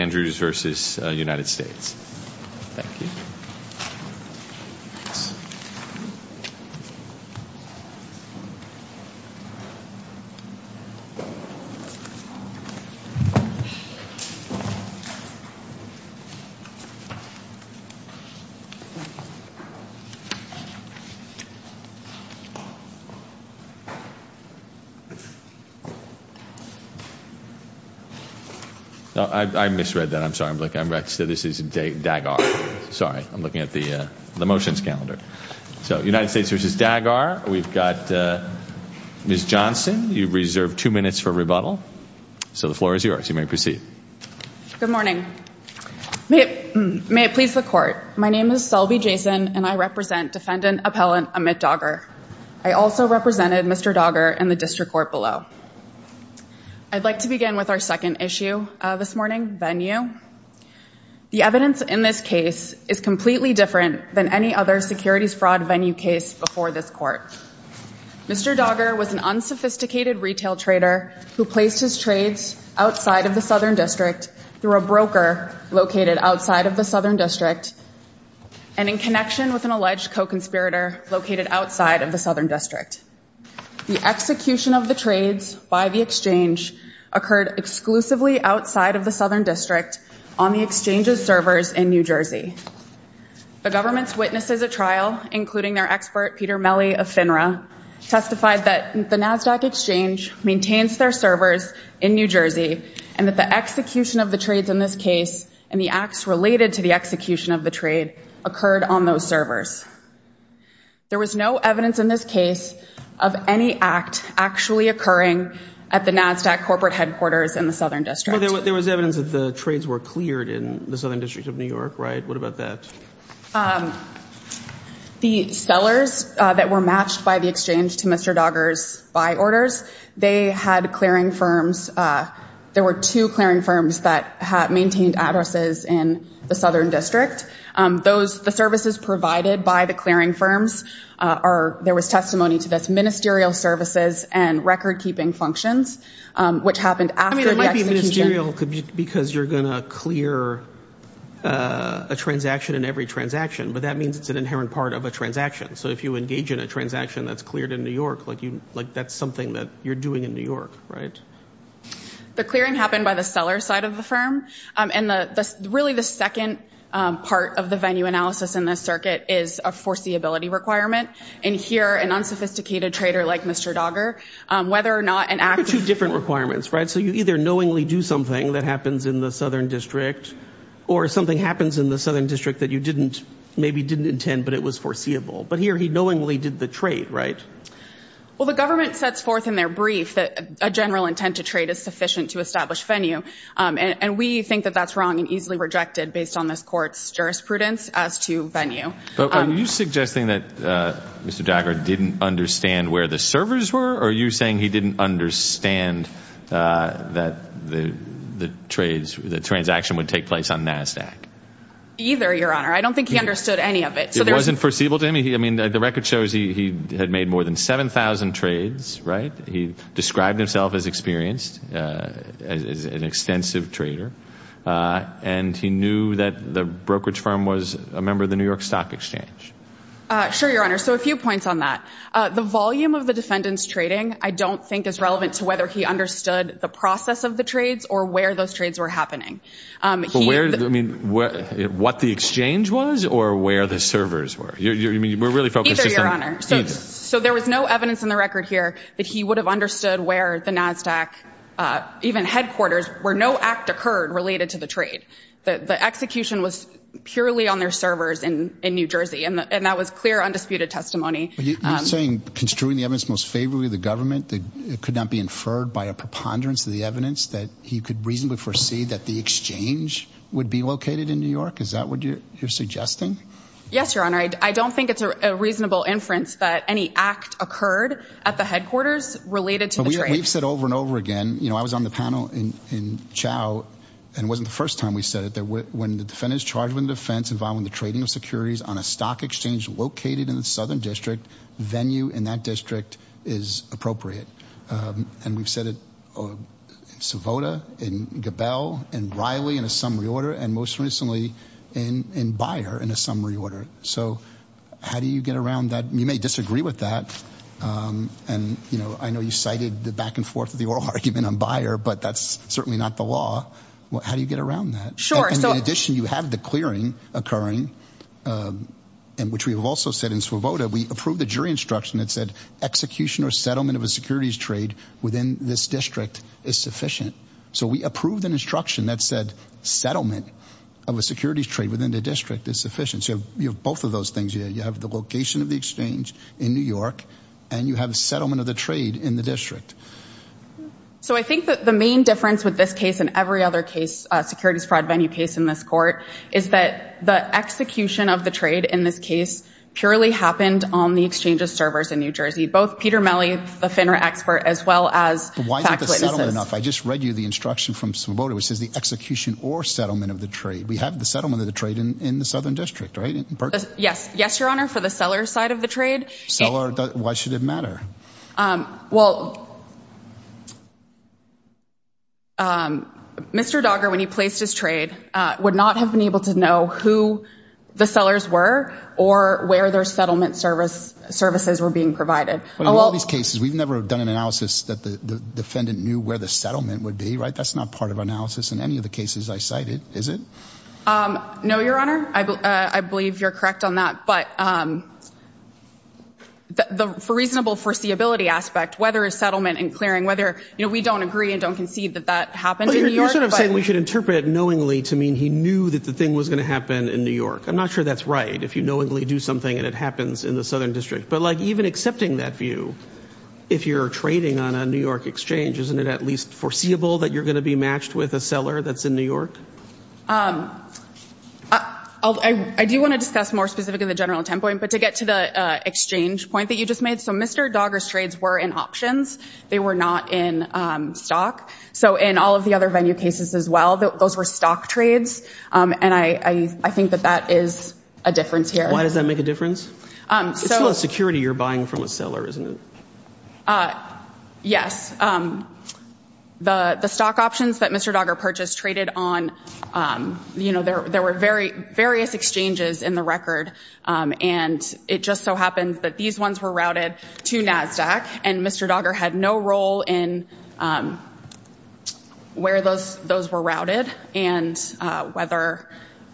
Andrews v. United States. Thank you. Thanks. I misread that. I'm sorry. I'm looking at the motions calendar. So United States v. Dagar. We've got Ms. Johnson. You've reserved two minutes for rebuttal. So the floor is yours. You may proceed. Good morning. May it please the court. My name is Selby Jason, and I represent Defendant Appellant Amit Dagar. I also represented Mr. Dagar in the district court below. I'd like to begin with our second issue this morning, venue. The evidence in this case is completely different than any other securities fraud venue case before this court. Mr. Dagar was an unsophisticated retail trader who placed his trades outside of the Southern District through a broker located outside of the Southern District and in connection with an alleged co-conspirator located outside of the Southern District. The execution of the trades by the exchange occurred exclusively outside of the Southern District on the exchange's servers in New Jersey. The government's witnesses at trial, including their expert Peter Melle of FINRA, testified that the NASDAQ exchange maintains their servers in New Jersey and that the execution of the trades in this case and the acts related to the execution of the trade occurred on those servers. There was no evidence in this case of any act actually occurring at the NASDAQ corporate headquarters in the Southern District. Well, there was evidence that the trades were cleared in the Southern District of New York, right? What about that? Um, the sellers that were matched by the exchange to Mr. Dagar's buy orders, they had clearing firms. Uh, there were two clearing firms that had maintained addresses in the Southern District. Um, those, the services provided by the clearing firms, uh, are, there was testimony to this ministerial services and record keeping functions, um, which happened after the execution. I mean, it might be ministerial because you're going to clear, uh, a transaction in every transaction, but that means it's an inherent part of a transaction. So if you engage in a transaction that's cleared in New York, like you, like that's something that you're doing in New York, right? The clearing happened by the seller side of the firm. Um, and the, the, really the second, um, part of the venue analysis in this circuit is a foreseeability requirement. And here an unsophisticated trader like Mr. Dagar, um, whether or not an act- There are two different requirements, right? So you either knowingly do something that happens in the Southern District or something happens in the Southern District that you didn't, maybe didn't intend, but it was foreseeable. But here he knowingly did the trade, right? Well, the government sets forth in their brief that a general intent to trade is sufficient to establish venue. Um, and we think that that's wrong and easily rejected based on this court's jurisprudence as to venue. But are you suggesting that, uh, Mr. Dagar didn't understand where the servers were or are you saying he didn't understand, uh, that the, the trades, the transaction would take place on NASDAQ? Either, Your Honor. I don't think he understood any of it. So there- It wasn't foreseeable to him? I mean, the record shows he, he had made more than 7,000 trades, right? He described himself as experienced, uh, as an extensive trader, uh, and he knew that the brokerage firm was a member of the New York Stock Exchange. Uh, sure, Your Honor. So a few points on that. Uh, the volume of the defendant's trading, I don't think is relevant to whether he understood the process of the trades or where those trades were happening. Um, he- But where, I mean, where, what the exchange was or where the servers were? You're, you're, I mean, we're really focused just on- Either, Your Honor. So- I mean, there's no evidence in the record here that he would have understood where the NASDAQ, uh, even headquarters, where no act occurred related to the trade. The, the execution was purely on their servers in, in New Jersey, and the, and that was clear undisputed testimony. Um- But you, you're saying construing the evidence most favorably of the government that it could not be inferred by a preponderance of the evidence that he could reasonably foresee that the exchange would be located in New York? Is that what you're, you're suggesting? Yes, Your Honor. I, I don't think it's a, a reasonable inference that any act occurred at the headquarters related to the trade. But we, we've said over and over again, you know, I was on the panel in, in Chao, and it wasn't the first time we said it, that when, when the defendant's charged with a defense involving the trading of securities on a stock exchange located in the Southern District, venue in that district is appropriate. Um, and we've said it, uh, in Savota, in Gabel, in Riley in a summary order, and most recently in, in Byer in a summary order. So how do you get around that? You may disagree with that. Um, and you know, I know you cited the back and forth of the oral argument on Byer, but that's certainly not the law. Well, how do you get around that? Sure. So- In addition, you have the clearing occurring, um, and which we have also said in Savota, we approved the jury instruction that said execution or settlement of a securities trade within this district is sufficient. So we approved an instruction that said settlement of a securities trade within the district is sufficient. So you have both of those things. You have the location of the exchange in New York, and you have a settlement of the trade in the district. So I think that the main difference with this case and every other case, a securities fraud venue case in this court, is that the execution of the trade in this case purely happened on the exchange of servers in New Jersey, both Peter Melle, the FINRA expert, as well as- But why isn't the settlement enough? I just read you the instruction from Savota, which says the execution or settlement of the trade. We have the settlement of the trade in the Southern District, right? Yes. Yes, Your Honor. For the seller side of the trade- Why should it matter? Um, well, um, Mr. Dogger, when he placed his trade, uh, would not have been able to know who the sellers were or where their settlement service, services were being provided. Oh, well- In all these cases, we've never done an analysis that the defendant knew where the settlement would be, right? That's not part of analysis in any of the cases I cited, is it? Um, no, Your Honor. I believe you're correct on that, but, um, the reasonable foreseeability aspect, whether a settlement and clearing, whether, you know, we don't agree and don't concede that that happened in New York, but- But you're sort of saying we should interpret it knowingly to mean he knew that the thing was going to happen in New York. I'm not sure that's right, if you knowingly do something and it happens in the Southern District. But, like, even accepting that view, if you're trading on a New York exchange, isn't it at least foreseeable that you're going to be matched with a seller that's in New York? Um, I do want to discuss more specifically the general template, but to get to the exchange point that you just made, so Mr. Dogger's trades were in options. They were not in stock. So, in all of the other venue cases as well, those were stock trades, and I think that that is a difference here. Why does that make a difference? Um, so- It's still a security you're buying from a seller, isn't it? Uh, yes. The stock options that Mr. Dogger purchased traded on, you know, there were various exchanges in the record, and it just so happened that these ones were routed to NASDAQ, and Mr. Dogger had no role in where those were routed and whether,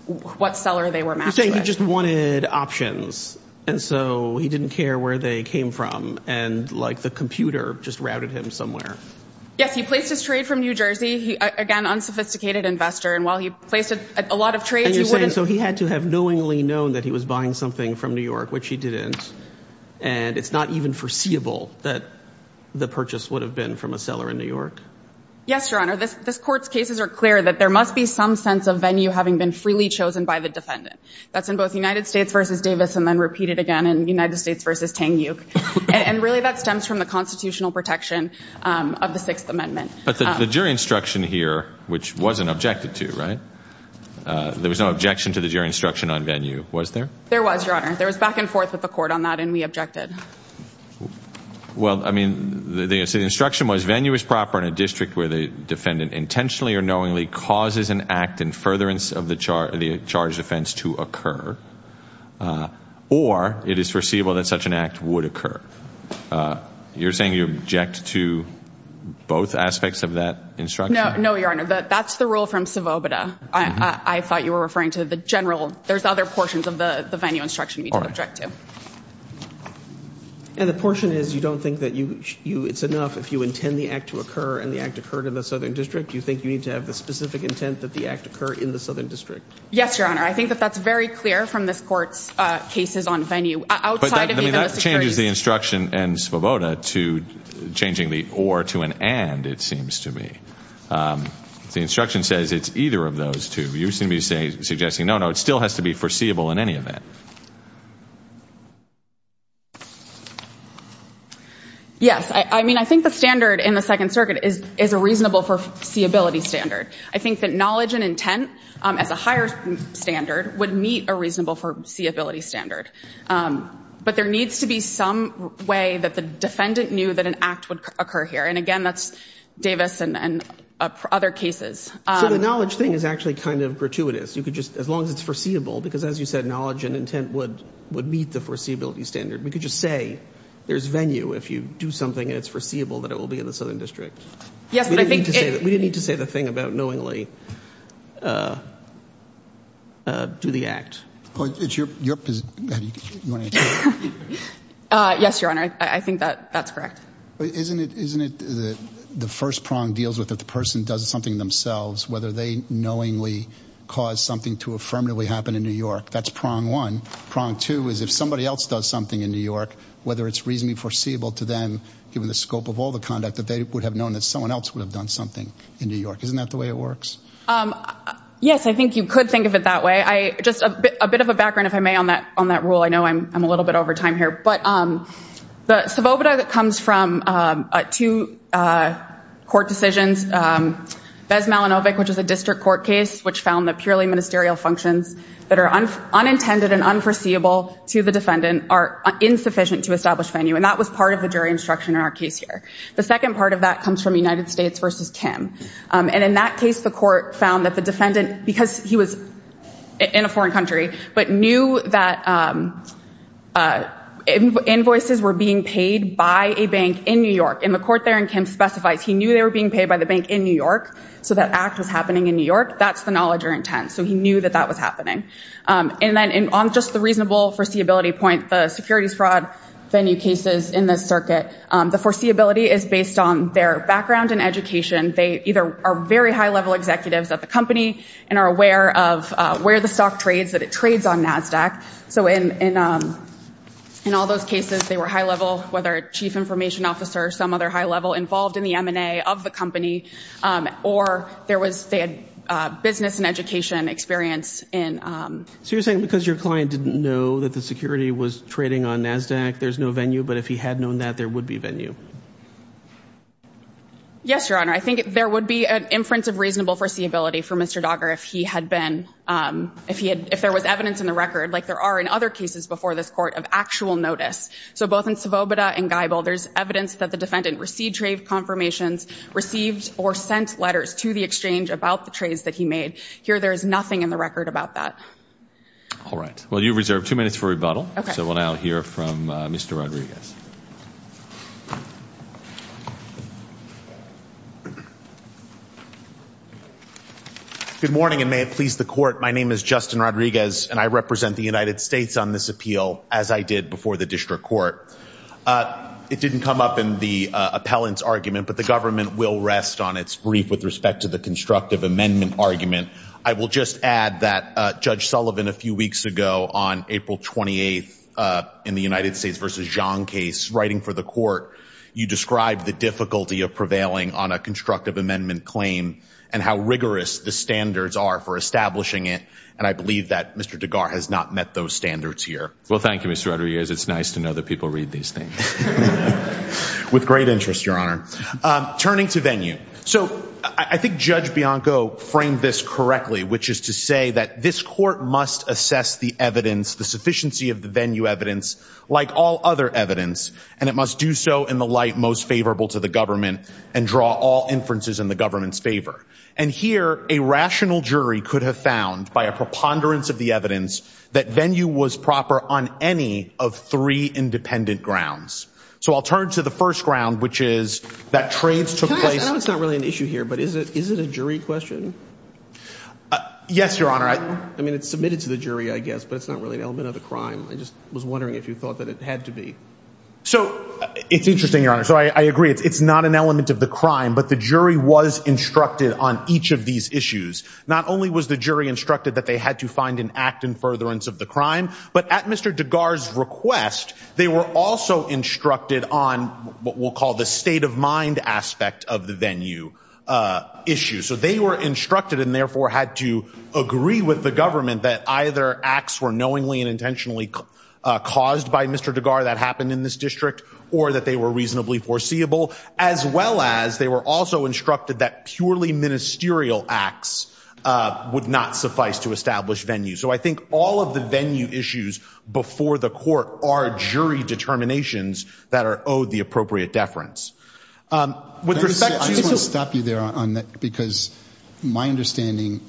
what seller they were matched with. So, you're saying he just wanted options, and so he didn't care where they came from, and like the computer just routed him somewhere. Yes, he placed his trade from New Jersey. He, again, unsophisticated investor, and while he placed a lot of trades, he wouldn't- And you're saying, so he had to have knowingly known that he was buying something from New York, which he didn't, and it's not even foreseeable that the purchase would have been from a seller in New York? Yes, Your Honor. This, this court's cases are clear that there must be some sense of venue having been freely chosen by the defendant. That's in both United States v. Davis and then repeated again in United States v. Tang Uke, and really that stems from the constitutional protection of the Sixth Amendment. But the jury instruction here, which wasn't objected to, right, there was no objection to the jury instruction on venue, was there? There was, Your Honor. There was back and forth with the court on that, and we objected. Well, I mean, the instruction was venue is proper in a district where the defendant intentionally or knowingly causes an act in furtherance of the charge, the charged offense to occur, or it is foreseeable that such an act would occur. You're saying you object to both aspects of that instruction? No, no, Your Honor. That's the rule from subobita. I thought you were referring to the general, there's other portions of the venue instruction we don't object to. And the portion is you don't think that you, you, it's enough if you intend the act to occur, and the act occurred in the southern district, you think you need to have the specific intent that the act occur in the southern district? Yes, Your Honor. I think that that's very clear from this court's cases on venue, outside of even the Sixth But that changes the instruction in subobita to changing the or to an and, it seems to me. If the instruction says it's either of those two, you're going to be suggesting no, no, it still has to be foreseeable in any event. Yes. I mean, I think the standard in the Second Circuit is a reasonable foreseeability standard. I think that knowledge and intent, as a higher standard, would meet a reasonable foreseeability standard. But there needs to be some way that the defendant knew that an act would occur here. And again, that's Davis and other cases. So the knowledge thing is actually kind of gratuitous. You could just, as long as it's foreseeable, because as you said, knowledge and intent would meet the foreseeability standard. We could just say there's venue if you do something and it's foreseeable that it will be in the southern district. Yes, but I think... We didn't need to say the thing about knowingly do the act. It's your... Yes, Your Honor. I think that that's correct. Isn't it the first prong deals with if the person does something themselves, whether they knowingly cause something to affirmatively happen in New York. That's prong one. Prong two is if somebody else does something in New York, whether it's reasonably foreseeable to them, given the scope of all the conduct, that they would have known that someone else would have done something in New York. Isn't that the way it works? Yes, I think you could think of it that way. Just a bit of a background, if I may, on that rule. I know I'm a little bit over time here. But the subobita that comes from two court decisions, Ves Malinovic, which is a district court case, which found that purely ministerial functions that are unintended and unforeseeable to the defendant are insufficient to establish venue. And that was part of the jury instruction in our case here. The second part of that comes from United States versus Kim. And in that case, the court found that the defendant, because he was in a foreign country, but knew that invoices were being paid by a bank in New York. And the court there in Kim specifies he knew they were being paid by the bank in New York, so that act was happening in New York. That's the knowledge or intent. So he knew that that was happening. And then on just the reasonable foreseeability point, the securities fraud venue cases in this circuit, the foreseeability is based on their background and education. They either are very high-level executives at the company and are aware of where the stock trades, that it trades on NASDAQ. So in all those cases, they were high-level, whether a chief information officer or some other high-level involved in the M&A of the company, or they had business and education experience in... So you're saying because your client didn't know that the security was trading on NASDAQ, there's no venue? But if he had known that, there would be venue? Yes, Your Honor. I think there would be an inference of reasonable foreseeability for Mr. Dogger if there was evidence in the record, like there are in other cases before this court, of actual notice. So both in Svoboda and Geibel, there's evidence that the defendant received trade confirmations, received or sent letters to the exchange about the trades that he made. Here there is nothing in the record about that. All right. Well, you reserve two minutes for rebuttal. So we'll now hear from Mr. Rodriguez. Good morning, and may it please the court. My name is Justin Rodriguez, and I represent the United States on this appeal, as I did before the district court. It didn't come up in the appellant's argument, but the government will rest on its brief with respect to the constructive amendment argument. I will just add that Judge Sullivan, a few weeks ago on April 28th, in the United States versus Zhang case, writing for the court, you described the difficulty of prevailing on a constructive amendment claim, and how rigorous the standards are for establishing it. And I believe that Mr. Doggar has not met those standards here. Well, thank you, Mr. Rodriguez. It's nice to know that people read these things. With great interest, Your Honor. Turning to venue. So I think Judge Bianco framed this correctly, which is to say that this court must assess the evidence, the sufficiency of the venue evidence, like all other evidence, and it must do so in the light most favorable to the government and draw all inferences in the government's favor. And here a rational jury could have found by a preponderance of the evidence that venue was proper on any of three independent grounds. So I'll turn to the first ground, which is that trades took place. I know it's not really an issue here, but is it a jury question? Yes, Your Honor. I mean, it's submitted to the jury, I guess, but it's not really an element of the crime. I just was wondering if you thought that it had to be. So it's interesting, Your Honor. So I agree. It's not an element of the crime, but the jury was instructed on each of these issues. Not only was the jury instructed that they had to find an act in furtherance of the crime, but at Mr. Degar's request, they were also instructed on what we'll call the state of mind aspect of the venue issue. So they were instructed and therefore had to agree with the government that either acts were knowingly and intentionally caused by Mr. Degar that happened in this district or that they were reasonably foreseeable, as well as they were also instructed that purely ministerial acts would not suffice to establish venue. So I think all of the venue issues before the court are jury determinations that are owed the appropriate deference. With respect to- I just want to stop you there on that, because my understanding,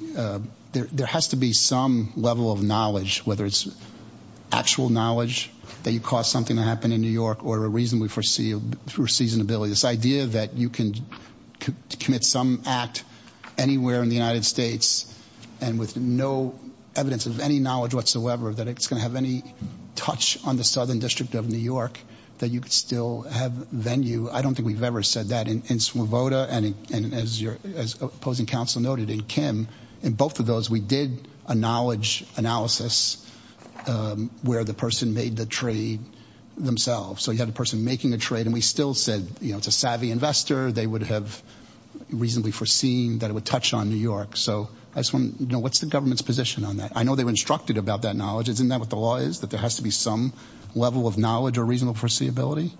there has to be some level of knowledge, whether it's actual knowledge that you caused something to happen in New York or a reasonably foreseeable, through seasonability. This idea that you can commit some act anywhere in the United States and with no evidence of any knowledge whatsoever that it's going to have any touch on the Southern District of New York, that you could still have venue. I don't think we've ever said that in Smurvota and as opposing counsel noted in Kim. In both of those, we did a knowledge analysis where the person made the trade themselves. So you had a person making a trade and we still said, it's a savvy investor. They would have reasonably foreseen that it would touch on New York. So what's the government's position on that? I know they were instructed about that knowledge. Isn't that what the law is, that there has to be some level of knowledge or reasonable foreseeability?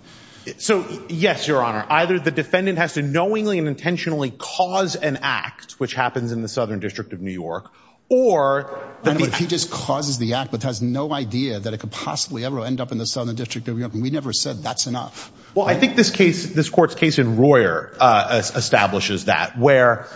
So, yes, Your Honor. Either the defendant has to knowingly and intentionally cause an act, which happens in the Southern District of New York, or- But if he just causes the act, but has no idea that it could possibly ever end up in the Southern District of New York, we never said that's enough. Well, I think this court's case in Royer establishes that, where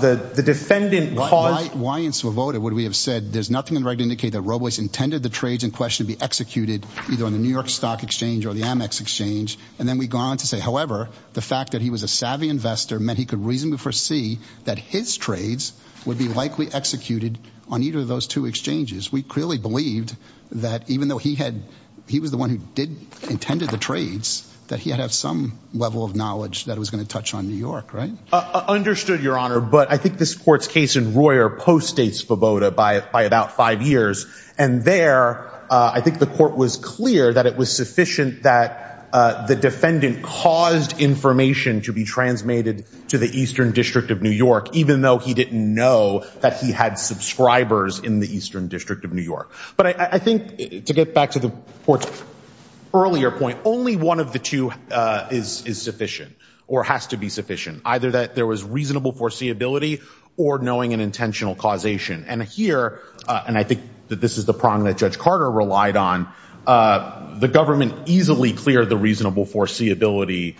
the defendant caused- Why in Smurvota would we have said, there's nothing in the right to indicate that Robles intended the trades in question to be executed either on the New York Stock Exchange or the Amex Exchange? And then we go on to say, however, the fact that he was a savvy investor meant he could reasonably foresee that his trades would be likely executed on either of those two exchanges. We clearly believed that, even though he was the one who intended the trades, that he had to have some level of knowledge that was going to touch on New York, right? Understood, Your Honor. But I think this court's case in Royer post-states Smurvota by about five years. And there, I think the court was clear that it was sufficient that the defendant caused information to be transmitted to the Eastern District of New York, even though he didn't know that he had subscribers in the Eastern District of New York. But I think, to get back to the court's earlier point, only one of the two is sufficient or has to be sufficient. Either that there was reasonable foreseeability or knowing an intentional causation. And here, and I think that this is the prong that Judge Carter relied on, the government easily cleared the reasonable foreseeability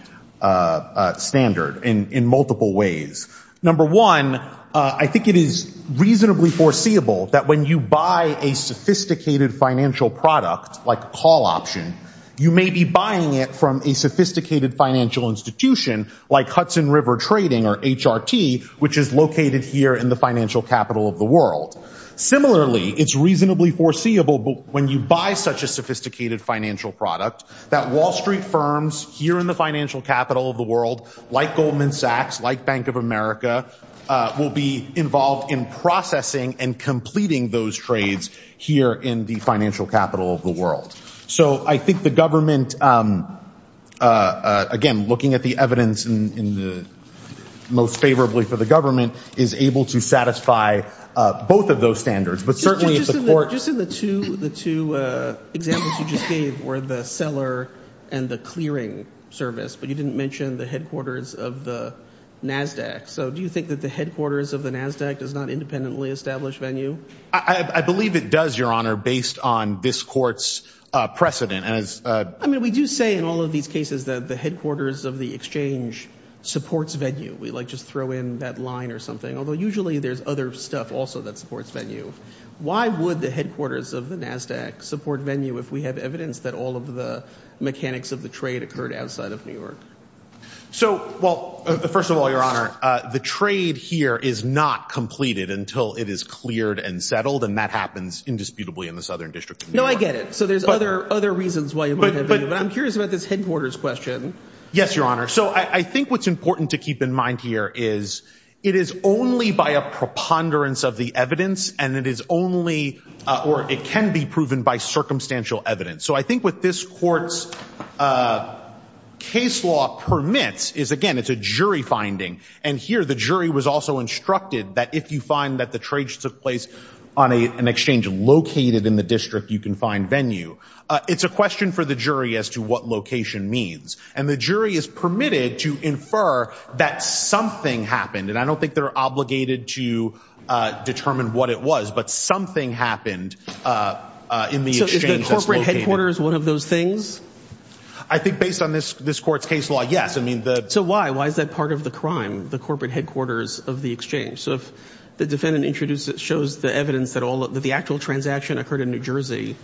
standard in multiple ways. Number one, I think it is reasonably foreseeable that when you buy a sophisticated financial product, like a call option, you may be buying it from a sophisticated financial institution like Hudson River Trading or HRT, which is located here in the financial capital of the world. Similarly, it's reasonably foreseeable when you buy such a sophisticated financial product that Wall Street firms here in the financial capital of the world, like Goldman Sachs, like Bank of America, will be involved in processing and completing those trades here in the financial capital of the world. So I think the government, again, looking at the evidence most favorably for the government, is able to satisfy both of those standards. But certainly if the court- Just in the two examples you just gave, where the seller and the clearing service, but you didn't mention the headquarters of the NASDAQ. So do you think that the headquarters of the NASDAQ does not independently establish venue? I believe it does, Your Honor, based on this court's precedent as- I mean, we do say in all of these cases that the headquarters of the exchange supports venue. We like just throw in that line or something, although usually there's other stuff also that supports venue. Why would the headquarters of the NASDAQ support venue if we have evidence that all of the mechanics of the trade occurred outside of New York? So well, first of all, Your Honor, the trade here is not completed until it is cleared and settled. And that happens indisputably in the Southern District of New York. No, I get it. So there's other reasons why it would have been. But I'm curious about this headquarters question. Yes, Your Honor. So I think what's important to keep in mind here is it is only by a preponderance of the evidence and it is only, or it can be proven by circumstantial evidence. So I think what this court's case law permits is, again, it's a jury finding. And here the jury was also instructed that if you find that the trade took place on an exchange located in the district, you can find venue. It's a question for the jury as to what location means. And the jury is permitted to infer that something happened. And I don't think they're obligated to determine what it was, but something happened in the exchange that's located. So the headquarters, one of those things? I think based on this court's case law, yes. So why? Why is that part of the crime, the corporate headquarters of the exchange? So if the defendant introduces, shows the evidence that the actual transaction occurred in New Jersey,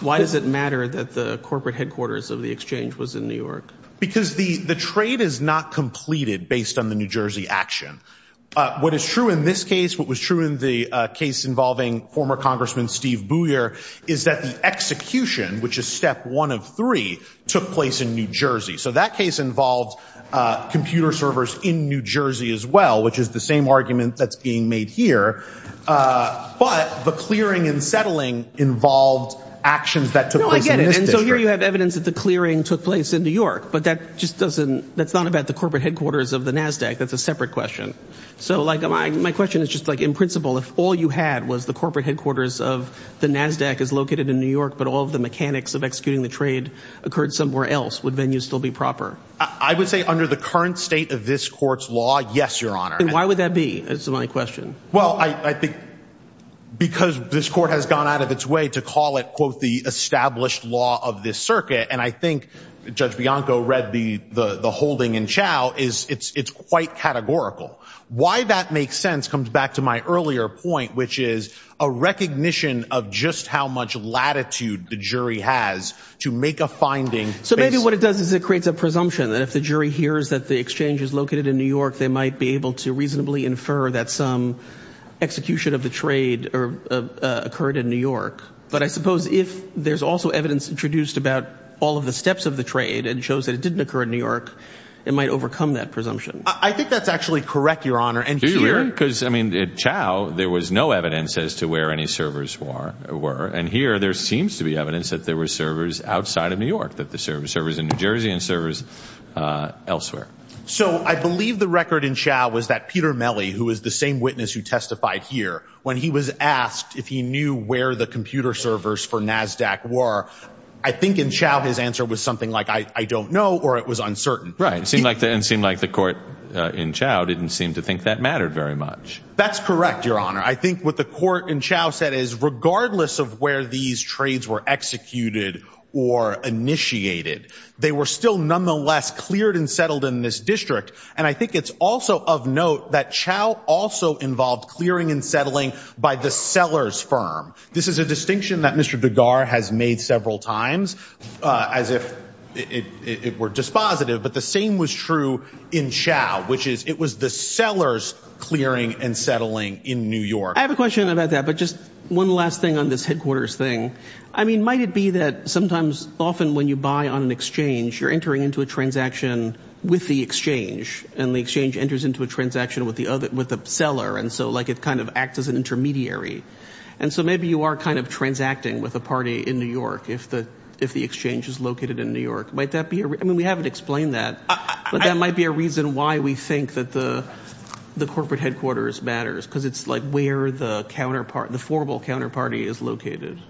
why does it matter that the corporate headquarters of the exchange was in New York? Because the trade is not completed based on the New Jersey action. What is true in this case, what was true in the case involving former Congressman Steve Booyer, is that the execution, which is step one of three, took place in New Jersey. So that case involved computer servers in New Jersey as well, which is the same argument that's being made here. But the clearing and settling involved actions that took place in this district. No, I get it. And so here you have evidence that the clearing took place in New York. But that just doesn't, that's not about the corporate headquarters of the NASDAQ. That's a separate question. So like my question is just like in principle, if all you had was the corporate headquarters of the NASDAQ is located in New York, but all of the mechanics of executing the trade occurred somewhere else, would venue still be proper? I would say under the current state of this court's law, yes, your honor. And why would that be? That's my question. Well, I think because this court has gone out of its way to call it, quote, the established law of this circuit. And I think Judge Bianco read the holding in Chao is it's quite categorical. Why that makes sense comes back to my earlier point, which is a recognition of just how much latitude the jury has to make a finding. So maybe what it does is it creates a presumption that if the jury hears that the exchange is located in New York, they might be able to reasonably infer that some execution of the trade occurred in New York. But I suppose if there's also evidence introduced about all of the steps of the trade and shows that it didn't occur in New York, it might overcome that presumption. I think that's actually correct, your honor. And do you really? Because, I mean, Chao, there was no evidence as to where any servers were. And here there seems to be evidence that there were servers outside of New York that the server servers in New Jersey and servers elsewhere. So I believe the record in Chao was that Peter Mellie, who is the same witness who testified here when he was asked if he knew where the computer servers for Nasdaq were. I think in Chao, his answer was something like, I don't know. Or it was uncertain. Right. It seemed like the court in Chao didn't seem to think that mattered very much. That's correct, your honor. I think what the court in Chao said is regardless of where these trades were executed or initiated, they were still nonetheless cleared and settled in this district. And I think it's also of note that Chao also involved clearing and settling by the sellers firm. This is a distinction that Mr. Dugar has made several times as if it were dispositive. But the same was true in Chao, which is it was the sellers clearing and settling in New York. I have a question about that. But just one last thing on this headquarters thing. I mean, might it be that sometimes often when you buy on an exchange, you're entering into a transaction with the exchange and the exchange enters into a transaction with the other with the seller. And so like it kind of acts as an intermediary. And so maybe you are kind of transacting with a party in New York if the if the exchange is located in New York. Might that be? I mean, we haven't explained that, but that might be a reason why we think that the the corporate headquarters matters, because it's like where the counterpart, the formal counterparty is located.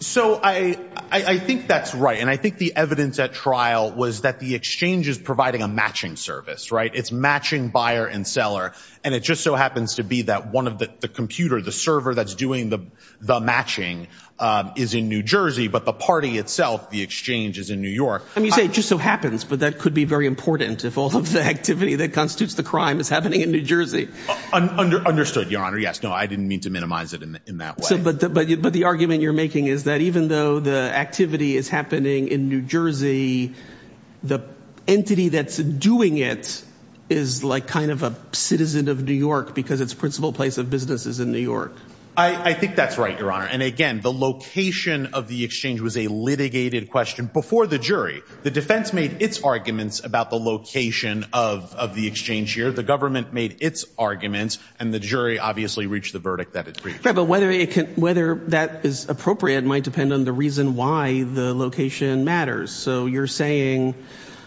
So I think that's right. And I think the evidence at trial was that the exchange is providing a matching service, right? It's matching buyer and seller. And it just so happens to be that one of the computer, the server that's doing the the matching is in New Jersey. But the party itself, the exchange is in New York. And you say it just so happens. But that could be very important if all of the activity that constitutes the crime is happening in New Jersey. Understood. Your Honor. Yes. No, I didn't mean to minimize it in that way. But the argument you're making is that even though the activity is happening in New Jersey, the entity that's doing it is like kind of a citizen of New York because its principal place of business is in New York. I think that's right, Your Honor. And again, the location of the exchange was a litigated question before the jury. The defense made its arguments about the location of the exchange here. The government made its arguments and the jury obviously reached the verdict that it reached. Right. But whether that is appropriate might depend on the reason why the location matters. So you're saying,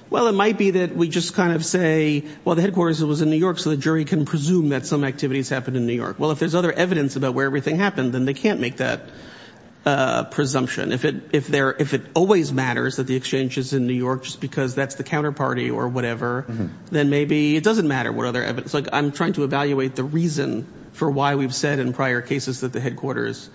well, it might be that we just kind of say, well, the headquarters was in New York. So the jury can presume that some activities happened in New York. Well, if there's other evidence about where everything happened, then they can't make that presumption. If it if there if it always matters that the exchange is in New York just because that's the counterparty or whatever, then maybe it doesn't matter what other evidence like I'm trying to evaluate the reason for why we've said in prior cases that the headquarters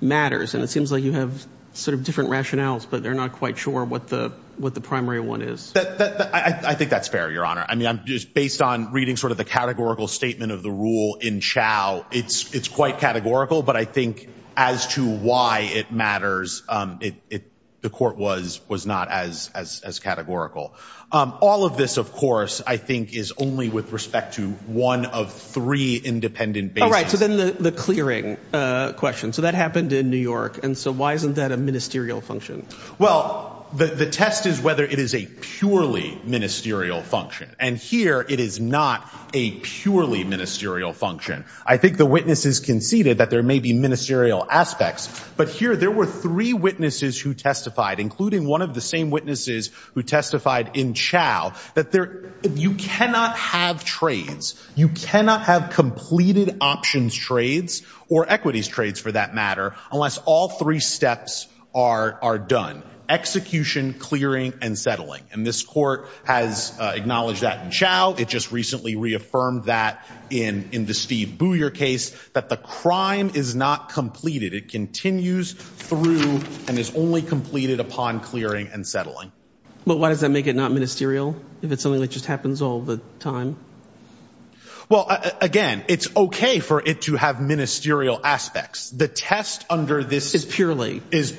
matters and it seems like you have sort of different rationales, but they're not quite sure what the what the primary one is. I think that's fair, Your Honor. I mean, I'm just based on reading sort of the categorical statement of the rule in Chao. It's it's quite categorical. But I think as to why it matters, it the court was was not as as as categorical. All of this, of course, I think is only with respect to one of three independent. All right. So then the clearing question. So that happened in New York. And so why isn't that a ministerial function? Well, the test is whether it is a purely ministerial function. And here it is not a purely ministerial function. I think the witnesses conceded that there may be ministerial aspects. But here there were three witnesses who testified, including one of the same witnesses who testified in Chao, that there you cannot have trades. You cannot have completed options, trades or equities trades, for that matter, unless all three steps are are done execution, clearing and settling. And this court has acknowledged that in Chao. It just recently reaffirmed that in in the Steve Booyer case that the crime is not completed. It continues through and is only completed upon clearing and settling. But why does that make it not ministerial if it's something that just happens all the time? Well, again, it's OK for it to have ministerial aspects. The test under this is purely is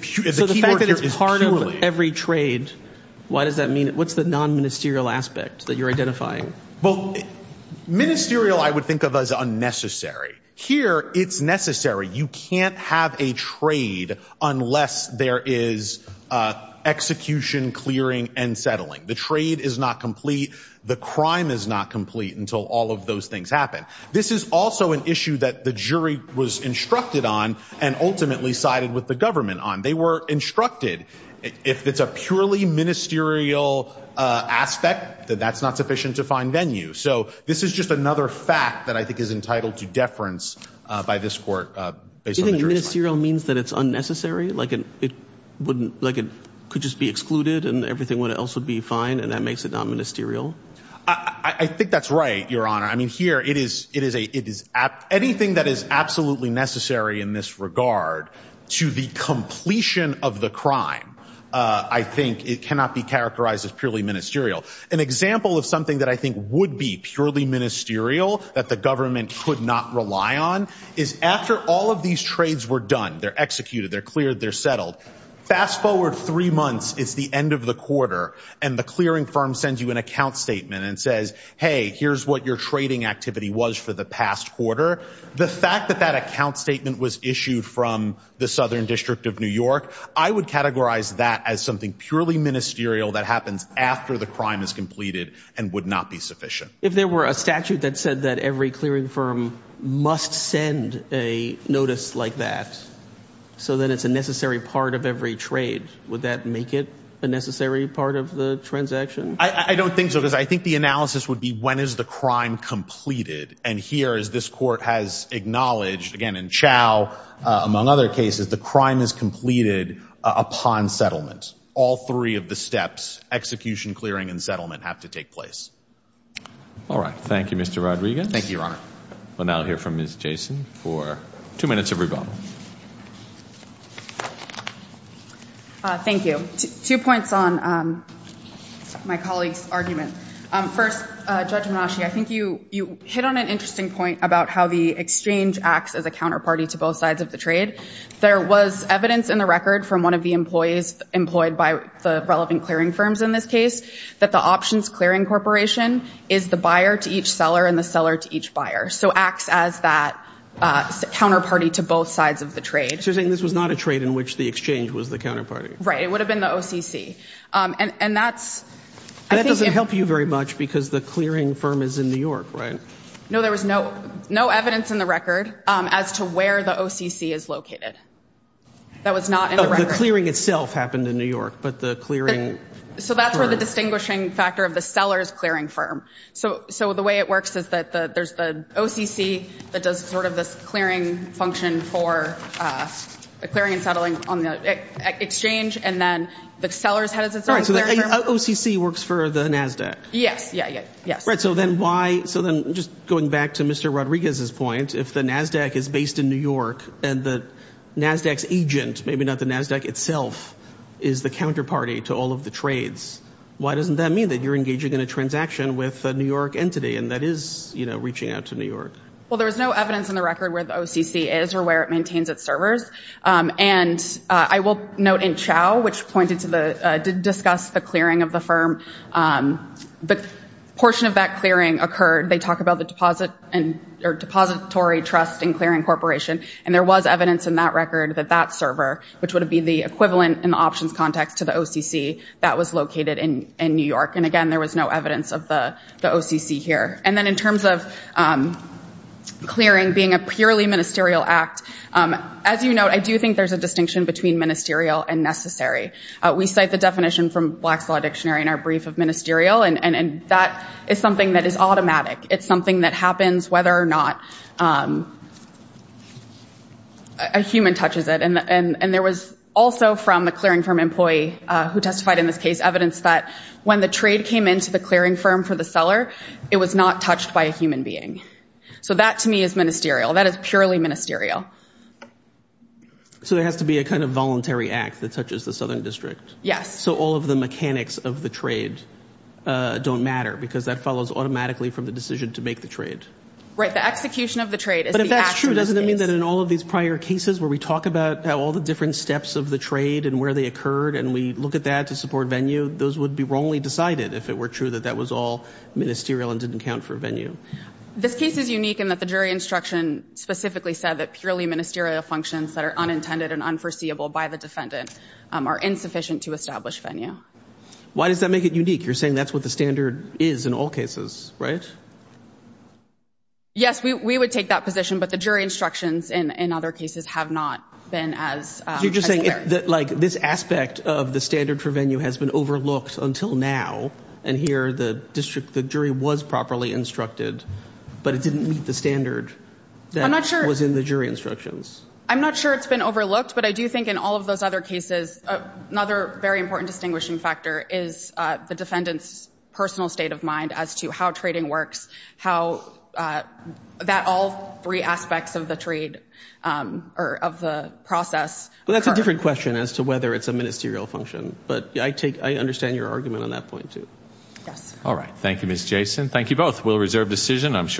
part of every trade. Why does that mean? What's the non ministerial aspect that you're identifying? Well, ministerial, I would think of as unnecessary here. It's necessary. You can't have a trade unless there is execution, clearing and settling. The trade is not complete. The crime is not complete until all of those things happen. This is also an issue that the jury was instructed on and ultimately sided with the government on. They were instructed. If it's a purely ministerial aspect, that that's not sufficient to find venue. So this is just another fact that I think is entitled to deference by this court based on ministerial means that it's unnecessary, like it wouldn't like it could just be excluded and everything else would be fine. And that makes it not ministerial. I think that's right, Your Honor. I mean, here it is. It is a it is anything that is absolutely necessary in this regard to the completion of the crime. I think it cannot be characterized as purely ministerial. An example of something that I think would be purely ministerial that the government could not rely on is after all of these trades were done, they're executed, they're cleared, they're settled. Fast forward three months. It's the end of the quarter. And the clearing firm sends you an account statement and says, hey, here's what your trading activity was for the past quarter. The fact that that account statement was issued from the Southern District of New York, I would categorize that as something purely ministerial that happens after the crime is completed and would not be sufficient. If there were a statute that said that every clearing firm must send a notice like that, so then it's a necessary part of every trade. Would that make it a necessary part of the transaction? I don't think so, because I think the analysis would be when is the crime completed? And here is this court has acknowledged again in Chau, among other cases, the crime is completed upon settlement. All three of the steps, execution, clearing and settlement have to take place. All right. Thank you, Mr. Rodriguez. Thank you, Your Honor. We'll now hear from Ms. Jason for two minutes of rebuttal. Thank you. Two points on my colleague's argument. First, Judge Menasche, I think you hit on an interesting point about how the exchange acts as a counterparty to both sides of the trade. There was evidence in the record from one of the employees employed by the relevant clearing firms in this case that the options clearing corporation is the buyer to each seller and the seller to each buyer. So acts as that counterparty to both sides of the trade. So you're saying this was not a trade in which the exchange was the counterparty? Right. It would have been the OCC. And that's... That doesn't help you very much because the clearing firm is in New York, right? No, there was no evidence in the record as to where the OCC is located. That was not in the record. The clearing itself happened in New York, but the clearing... So that's where the distinguishing factor of the seller is clearing firm. So the way it works is that there's the OCC that does sort of this clearing function for the clearing and settling on the exchange, and then the seller's head is its own clearing firm. So the OCC works for the NASDAQ? Yes. Yeah. Yes. Right. So then why... So then just going back to Mr. Rodriguez's point, if the NASDAQ is based in New York and the NASDAQ's agent, maybe not the NASDAQ itself, is the counterparty to all of the Why doesn't that mean that you're engaging in a transaction with a New York entity and that is, you know, reaching out to New York? Well, there was no evidence in the record where the OCC is or where it maintains its servers. And I will note in Chao, which pointed to the... Did discuss the clearing of the firm, the portion of that clearing occurred. They talk about the deposit and... Or Depository Trust and Clearing Corporation. And there was evidence in that record that that server, which would have been the equivalent in the options context to the OCC, that was located in New York. And again, there was no evidence of the OCC here. And then in terms of clearing being a purely ministerial act, as you know, I do think there's a distinction between ministerial and necessary. We cite the definition from Black's Law Dictionary in our brief of ministerial, and that is something that is automatic. It's something that happens whether or not a human touches it. And there was also from a clearing firm employee who testified in this case evidence that when the trade came into the clearing firm for the seller, it was not touched by a human being. So that, to me, is ministerial. That is purely ministerial. So there has to be a kind of voluntary act that touches the Southern District? Yes. So all of the mechanics of the trade don't matter because that follows automatically from the decision to make the trade? Right. The execution of the trade is the act in this case. So doesn't it mean that in all of these prior cases where we talk about how all the different steps of the trade and where they occurred and we look at that to support venue, those would be wrongly decided if it were true that that was all ministerial and didn't count for venue? This case is unique in that the jury instruction specifically said that purely ministerial functions that are unintended and unforeseeable by the defendant are insufficient to establish venue. Why does that make it unique? You're saying that's what the standard is in all cases, right? Yes, we would take that position, but the jury instructions in other cases have not been as fair. You're just saying that this aspect of the standard for venue has been overlooked until now and here the jury was properly instructed, but it didn't meet the standard that was in the jury instructions? I'm not sure it's been overlooked, but I do think in all of those other cases, another very important distinguishing factor is the defendant's personal state of mind as to how trading works, how that all three aspects of the trade or of the process occur. Well, that's a different question as to whether it's a ministerial function, but I take I understand your argument on that point too. Yes. All right. Thank you, Ms. Jason. Thank you both. We'll reserve decision. I'm sure.